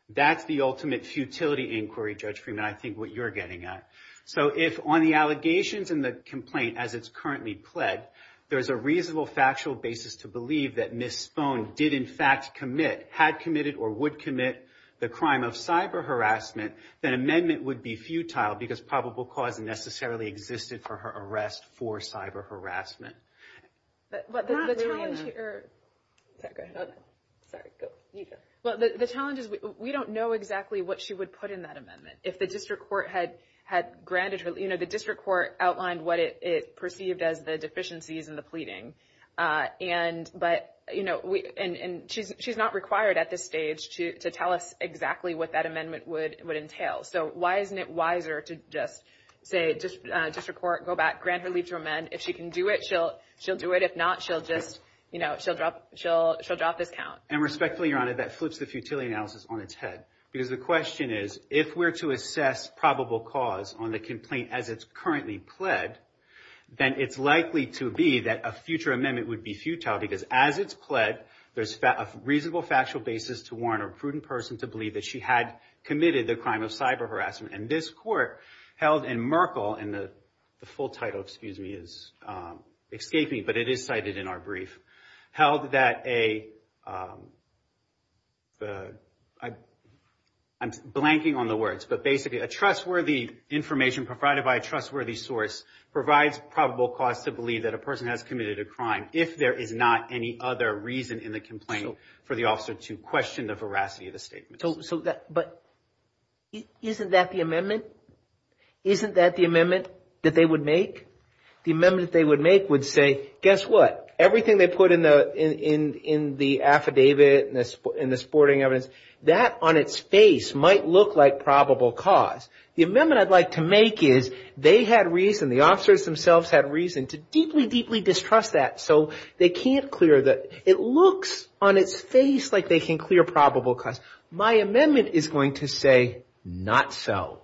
That's the ultimate futility inquiry, Judge Freeman, I think what you're getting at. So if on the allegations and the complaint as it's currently pled, there's a reasonable factual basis to believe that Ms. Stone did, in fact, commit, had committed or would commit the crime of cyber harassment, then amendment would be futile because probable cause necessarily existed for her arrest for cyber harassment. But the challenge here, sorry, go, you go. Well, the challenge is we don't know exactly what she would put in that amendment. If the district court had granted her, you know, the district court outlined what it perceived as the deficiencies in the pleading. And, but, you know, and she's not required at this stage to tell us exactly what that amendment would entail. So why isn't it wiser to just say, district court, go back, grant her leave to amend. If she can do it, she'll do it. If not, she'll just, you know, she'll drop this count. And respectfully, Your Honor, that flips the futility analysis on its head because the question is, if we're to assess probable cause on the complaint as it's currently pled, then it's likely to be that a future amendment would be futile because as it's pled, there's a reasonable factual basis to warrant a prudent person to believe that she had committed the crime of cyber harassment. And this court held in Merkle, and the full title, excuse me, is, escape me, but it is cited in our brief, held that a, I'm blanking on the words, but basically a trustworthy information provided by a trustworthy source provides probable cause to believe that a person has committed a crime if there is not any other reason in the complaint for the officer to question the veracity of the statement. So that, but isn't that the amendment? Isn't that the amendment that they would make? The amendment that they would make would say, guess what? Everything they put in the affidavit, in the sporting evidence, that on its face might look like probable cause. The amendment I'd like to make is they had reason, the officers themselves had reason to deeply, deeply distrust that. So they can't clear that. It looks on its face like they can clear probable cause. My amendment is going to say, not so.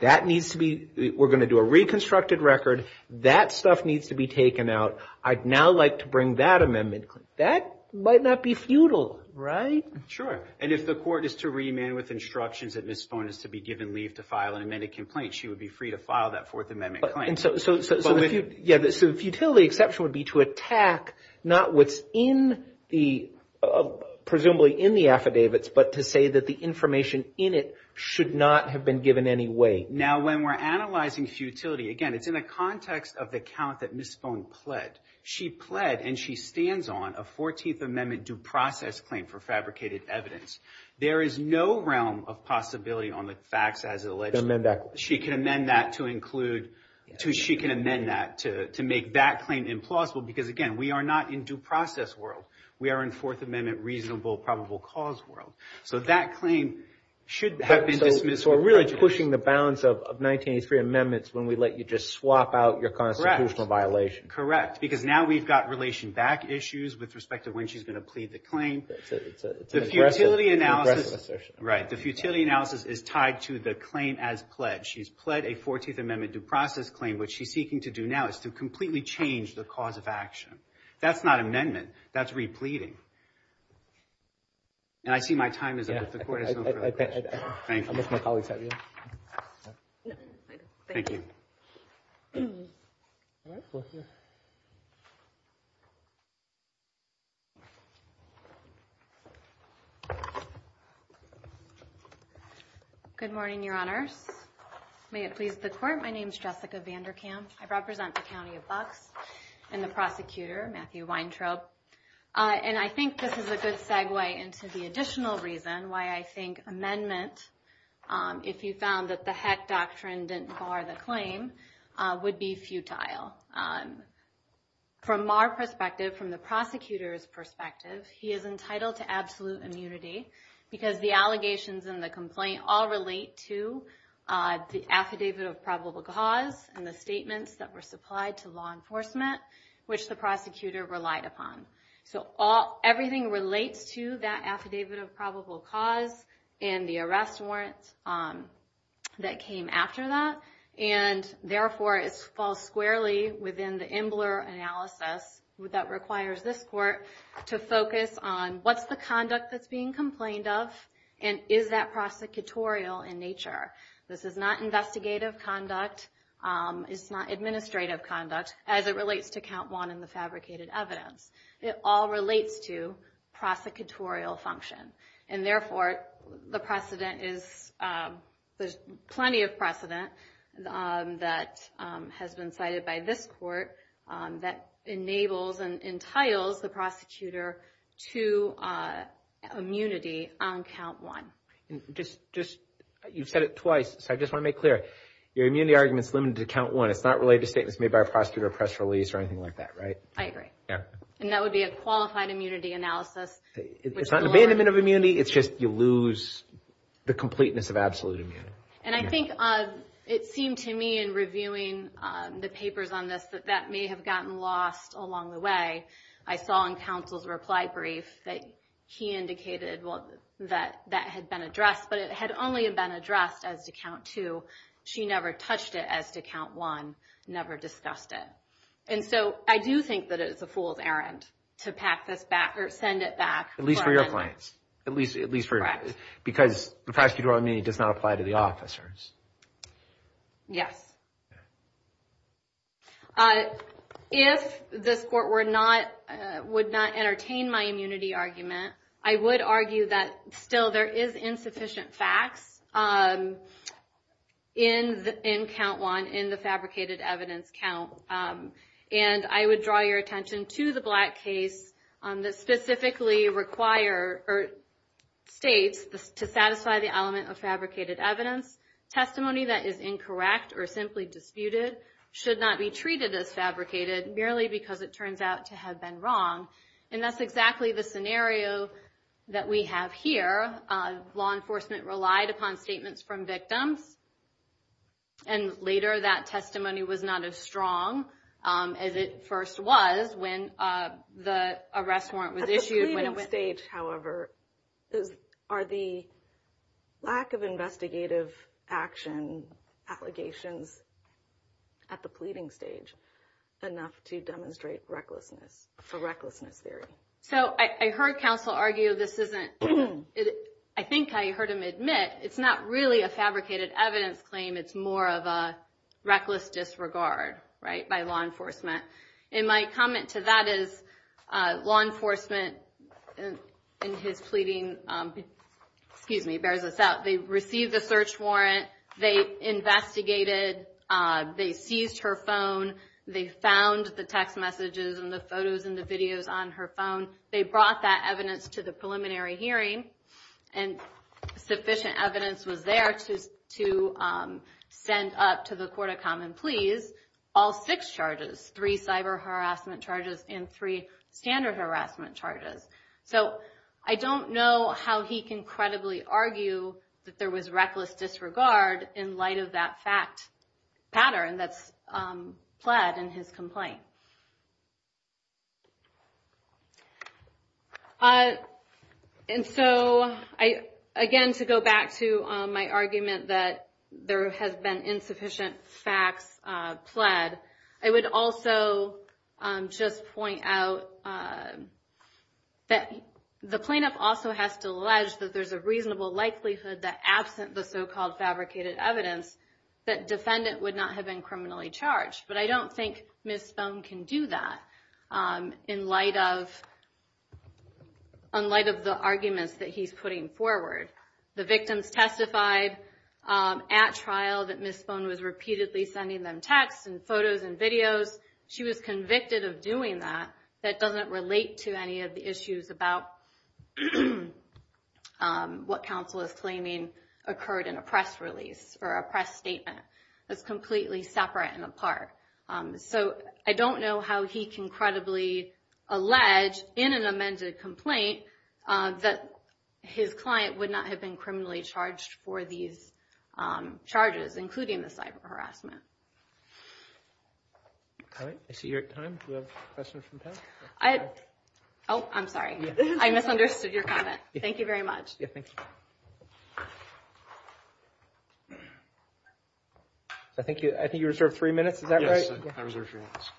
That needs to be, we're going to do a reconstructed record. That stuff needs to be taken out. I'd now like to bring that amendment. That might not be futile, right? Sure. And if the court is to remand with instructions that Ms. Phone is to be given leave to file an amended complaint, she would be free to file that Fourth Amendment claim. And so the futility exception would be to attack not what's in the, presumably in the affidavits, but to say that the information in it should not have been given any way. Now, when we're analyzing futility, again, it's in the context of the count that Ms. Phone pled. She pled and she stands on a 14th Amendment due process claim for fabricated evidence. There is no realm of possibility on the facts as alleged. She can amend that to include, she can amend that to make that claim implausible. Because again, we are not in due process world. We are in Fourth Amendment reasonable probable cause world. So that claim should have been dismissed. So we're really pushing the bounds of 1983 amendments when we let you just swap out your constitutional violation. Correct. Because now we've got relation back issues with respect to when she's going to plead the claim. The futility analysis, right. The futility analysis is tied to the claim as pled. She's pled a 14th Amendment due process claim, which she's seeking to do now is to completely change the cause of action. That's not amendment. That's repleading. And I see my time is up, but the court has no further questions. Thank you. Thank you. Good morning, Your Honors. May it please the court. My name is Jessica Vanderkam. I represent the county of Bucks and the prosecutor, Matthew Weintraub. And I think this is a good segue into the additional reason why I think amendment. If you found that the heck doctrine didn't bar the claim would be futile. From our perspective, from the prosecutor's perspective, he is entitled to absolute immunity because the allegations and the complaint all relate to the affidavit of probable cause and the statements that were supplied to law enforcement, which the prosecutor relied upon. So all everything relates to that affidavit of probable cause and the arrest warrants that came after that. And therefore, it falls squarely within the Imbler analysis that requires this court to focus on what's the conduct that's being complained of and is that prosecutorial in nature. This is not investigative conduct. It's not administrative conduct as it relates to count one in the fabricated evidence. It all relates to prosecutorial function. And therefore, the precedent is, there's plenty of precedent that has been cited by this court that enables and entitles the prosecutor to immunity on count one. And just, you've said it twice, so I just want to make clear, your immunity argument is limited to count one. It's not related to statements made by a prosecutor or press release or anything like that, right? I agree. Yeah. And that would be a qualified immunity analysis. It's not an abandonment of immunity, it's just you lose the completeness of absolute immunity. And I think it seemed to me in reviewing the papers on this that that may have gotten lost along the way. I saw in counsel's reply brief that he indicated that that had been addressed, but it had only been addressed as to count two. She never touched it as to count one, never discussed it. And so I do think that it's a fool's errand to pack this back or send it back. At least for your clients. At least for, because the prosecutorial immunity does not apply to the officers. Yes. If this court would not entertain my immunity argument, I would argue that still there is insufficient facts in count one, in the fabricated evidence count. And I would draw your attention to the Black case that specifically require, or states to satisfy the element of fabricated evidence. Testimony that is incorrect or simply disputed should not be treated as fabricated merely because it turns out to have been wrong. And that's exactly the scenario that we have here. Law enforcement relied upon statements from victims. And later that testimony was not as strong as it first was when the arrest warrant was At the pleading stage, however, are the lack of investigative action allegations at the pleading stage enough to demonstrate recklessness, for recklessness theory. So I heard counsel argue this isn't, I think I heard him admit it's not really a fabricated evidence claim. It's more of a reckless disregard, right, by law enforcement. And my comment to that is law enforcement in his pleading, excuse me, bears this out. They received the search warrant. They investigated. They seized her phone. They found the text messages and the photos and the videos on her phone. They brought that evidence to the preliminary hearing. And sufficient evidence was there to send up to the court of common pleas all six charges, three cyber harassment charges and three standard harassment charges. So I don't know how he can credibly argue that there was reckless disregard in light of that fact pattern that's pled in his complaint. And so I, again, to go back to my argument that there has been insufficient facts pled, I would also just point out that the plaintiff also has to allege that there's a reasonable likelihood that absent the so-called fabricated evidence that defendant would not have been criminally charged. But I don't think Ms. Spohn can do that in light of the arguments that he's putting forward. The victims testified at trial that Ms. Spohn was repeatedly sending them texts and photos and videos. She was convicted of doing that. That doesn't relate to any of the issues about what counsel is claiming occurred in a press release or a press statement. That's completely separate and apart. So I don't know how he can credibly allege in an amended complaint that his client would not have been criminally charged for these charges, including the cyber harassment. All right. I see you're at time. Do you have a question from Pat? Oh, I'm sorry. I misunderstood your comment. Thank you very much. I think you reserved three minutes. Is that right? I reserved three minutes.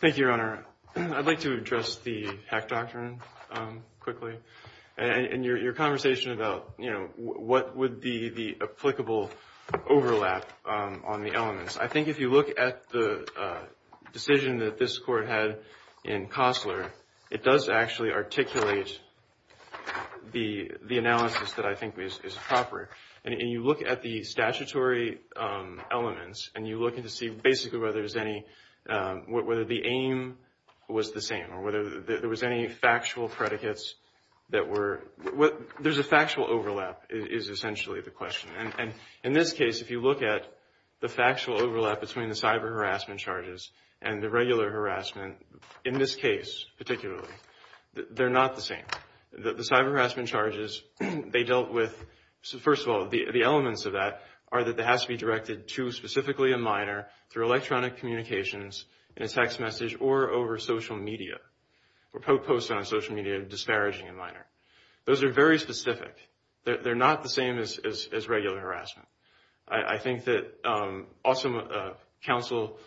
Thank you, Your Honor. I'd like to address the hack doctrine quickly. And your conversation about what would be the applicable overlap on the elements. I think if you look at the decision that this court had in Costler, it does actually articulate the analysis that I think is proper. And you look at the statutory elements, and you look to see basically whether the aim was the same or whether there was any factual predicates that were. There's a factual overlap is essentially the question. And in this case, if you look at the factual overlap between the cyber harassment charges and the regular harassment, in this case, particularly, they're not the same. The cyber harassment charges, they dealt with. First of all, the elements of that are that there has to be directed to specifically a minor through electronic communications in a text message or over social media or post on social media disparaging a minor. Those are very specific. They're not the same as regular harassment. I think that also counsel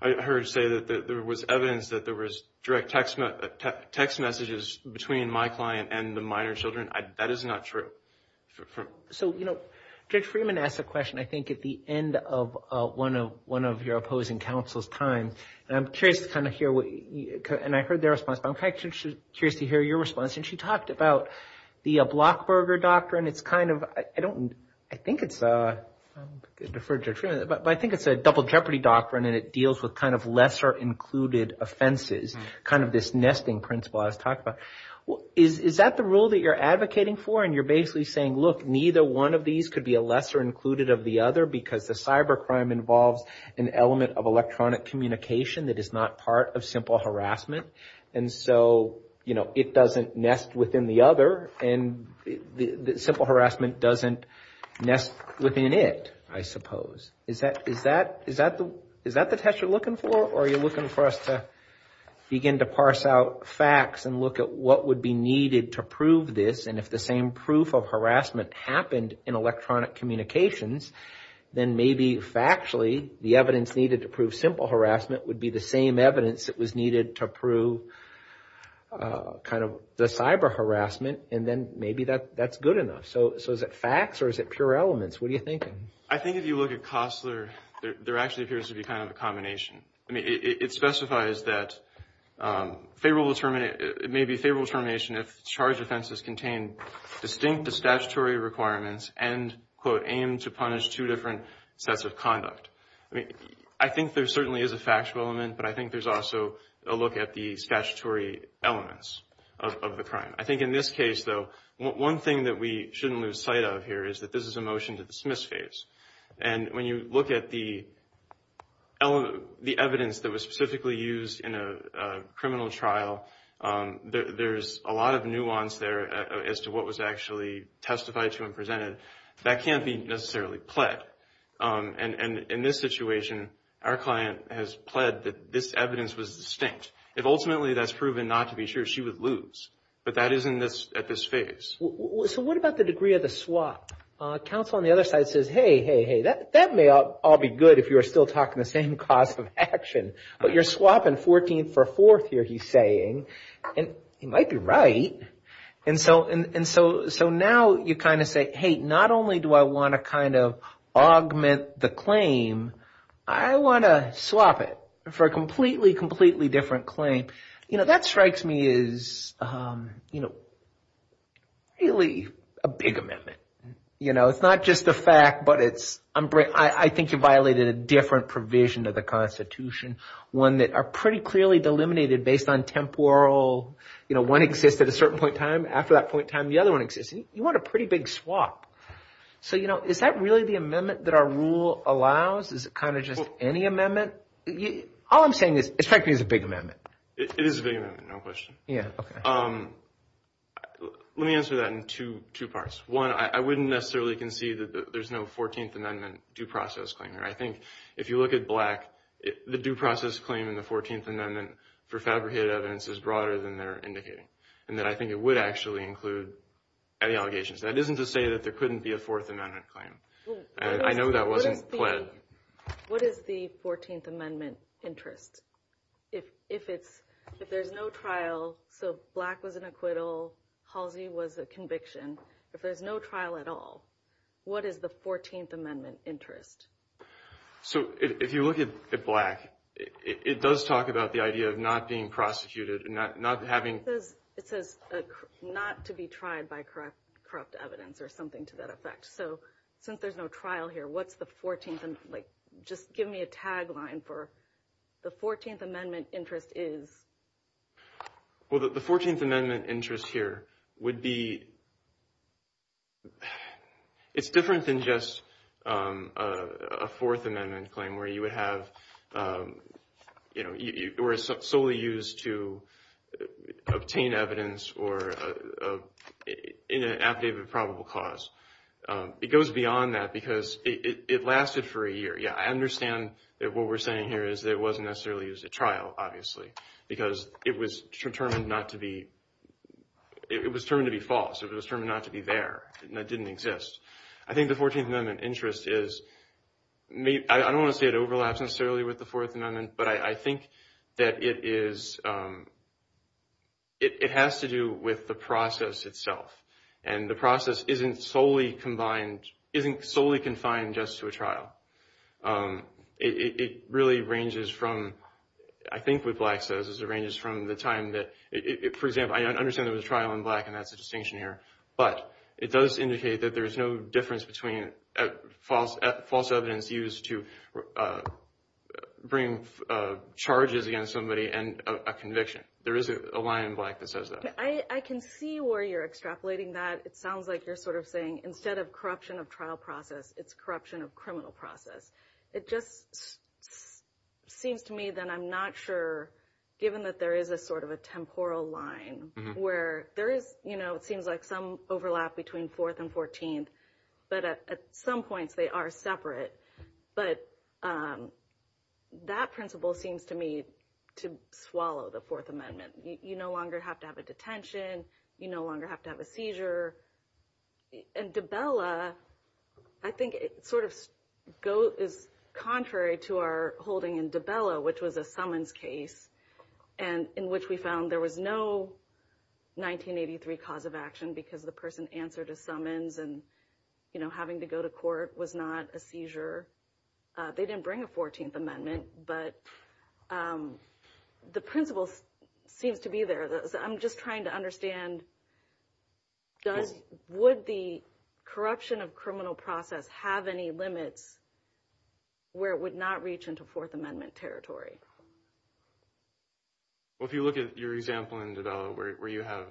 heard say that there was evidence that there was direct text messages between my client and the minor children. That is not true. So, you know, Judge Freeman asked a question, I think, at the end of one of your opposing counsel's time. And I'm curious to kind of hear what, and I heard their response, but I'm curious to hear your response. And she talked about the Blockberger Doctrine. It's kind of, I don't, I think it's a, I'm going to defer to Judge Freeman, but I think it's a double jeopardy doctrine, and it deals with kind of lesser included offenses, kind of this nesting principle I was talking about. Is that the rule that you're advocating for? And you're basically saying, look, neither one of these could be a lesser included of the other because the cybercrime involves an element of electronic communication that is not part of simple harassment. And so, you know, it doesn't nest within the other. And the simple harassment doesn't nest within it, I suppose. Is that, is that, is that the, is that the text you're looking for? Or are you looking for us to begin to parse out facts and look at what would be needed to prove this? And if the same proof of harassment happened in electronic communications, then maybe factually the evidence needed to prove simple harassment would be the same evidence that was needed to prove kind of the cyber harassment. And then maybe that, that's good enough. So, so is it facts or is it pure elements? What are you thinking? I think if you look at Costler, there actually appears to be kind of a combination. I mean, it specifies that favorable termination, it may be favorable termination if charge offenses contain distinct to statutory requirements and, quote, aim to punish two different sets of conduct. I mean, I think there certainly is a factual element, but I think there's also a look at the statutory elements of the crime. I think in this case, though, one thing that we shouldn't lose sight of here is that this is a motion to dismiss phase. And when you look at the element, the evidence that was specifically used in a criminal trial, there's a lot of nuance there as to what was actually testified to and presented. That can't be necessarily pled. And in this situation, our client has pled that this evidence was distinct. If ultimately that's proven not to be true, she would lose. But that is in this, at this phase. So what about the degree of the swap? Counsel on the other side says, hey, hey, hey, that may all be good if you're still talking the same cause of action. But you're swapping 14th for 4th here, he's saying. And he might be right. And so now you kind of say, hey, not only do I want to kind of augment the claim, I want to swap it for a completely, completely different claim. You know, that strikes me as, you know, really a big amendment. You know, it's not just the fact, but it's, I think you violated a different provision of the Constitution. One that are pretty clearly delimited based on temporal, you know, one exists at a certain point in time. After that point in time, the other one exists. You want a pretty big swap. So, you know, is that really the amendment that our rule allows? Is it kind of just any amendment? All I'm saying is, it strikes me as a big amendment. It is a big amendment, no question. Let me answer that in two parts. One, I wouldn't necessarily concede that there's no 14th Amendment due process claim here. I think if you look at Black, the due process claim in the 14th Amendment for fabricated evidence is broader than they're indicating. And that I think it would actually include any allegations. That isn't to say that there couldn't be a 4th Amendment claim. I know that wasn't pled. What is the 14th Amendment interest? If there's no trial, so Black was an acquittal. Halsey was a conviction. If there's no trial at all, what is the 14th Amendment interest? So if you look at Black, it does talk about the idea of not being prosecuted, not having. It says not to be tried by corrupt evidence or something to that effect. So since there's no trial here, what's the 14th Amendment? Just give me a tagline for the 14th Amendment interest is. Well, the 14th Amendment interest here would be. It's different than just a 4th Amendment claim where you would have, you know, or is solely used to obtain evidence or in an affidavit of probable cause. It goes beyond that because it lasted for a year. Yeah, I understand that what we're saying here is that it wasn't necessarily a trial, obviously, because it was determined not to be. It was determined to be false. It was determined not to be there. That didn't exist. I think the 14th Amendment interest is, I don't want to say it overlaps necessarily with the 4th Amendment, but I think that it is, it has to do with the process itself. And the process isn't solely combined, isn't solely confined just to a trial. It really ranges from, I think what Black says is it ranges from the time that, for example, I understand there was a trial in Black and that's a distinction here, but it does indicate that there's no difference between false evidence used to bring charges against somebody and a conviction. There is a line in Black that says that. I can see where you're extrapolating that. It sounds like you're sort of saying instead of corruption of trial process, it's corruption of criminal process. It just seems to me that I'm not sure, given that there is a sort of a temporal line where there is, you know, it seems like some overlap between 4th and 14th, but at some points they are separate. But that principle seems to me to swallow the 4th Amendment. You no longer have to have a detention. You no longer have to have a seizure. And DiBella, I think it sort of goes, is contrary to our holding in DiBella, which was a summons case and in which we found there was no 1983 cause of action because the person answered a summons and, you know, having to go to court was not a seizure. They didn't bring a 14th Amendment, but the principle seems to be there. I'm just trying to understand, would the corruption of criminal process have any limits where it would not reach into 4th Amendment territory? Well, if you look at your example in DiBella, where you have,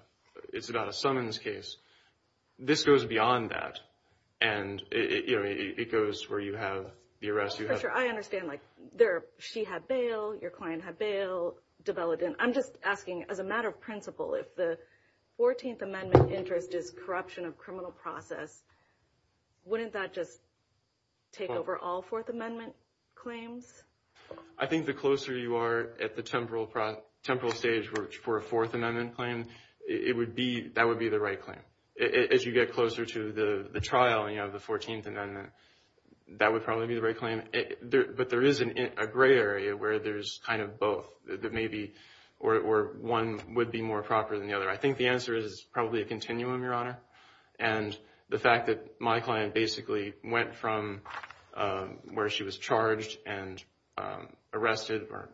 it's about a summons case, this goes beyond that. And, you know, it goes where you have the arrest. For sure, I understand, like, she had bail, your client had bail, DiBella didn't. I'm just asking, as a matter of principle, if the 14th Amendment interest is corruption of criminal process, wouldn't that just take over all 4th Amendment claims? I think the closer you are at the temporal stage for a 4th Amendment claim, that would be the right claim. As you get closer to the trial and you have the 14th Amendment, that would probably be the right claim. But there is a gray area where there's kind of both, that maybe, or one would be more proper than the other. I think the answer is probably a continuum, Your Honor. And the fact that my client basically went from where she was charged and arrested or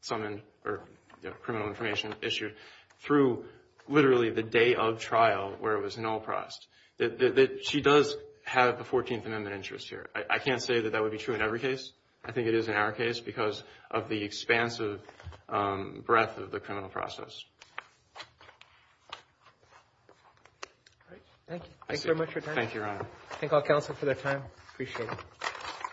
summoned or, you know, criminal information issued through, literally, the day of trial, where it was null-processed, that she does have a 14th Amendment interest here. I can't say that that would be true in every case. I think it is in our case because of the expansive breadth of the criminal process. All right. Thank you. Thank you very much for your time. Thank you, Your Honor. Thank all counsel for their time. Appreciate it.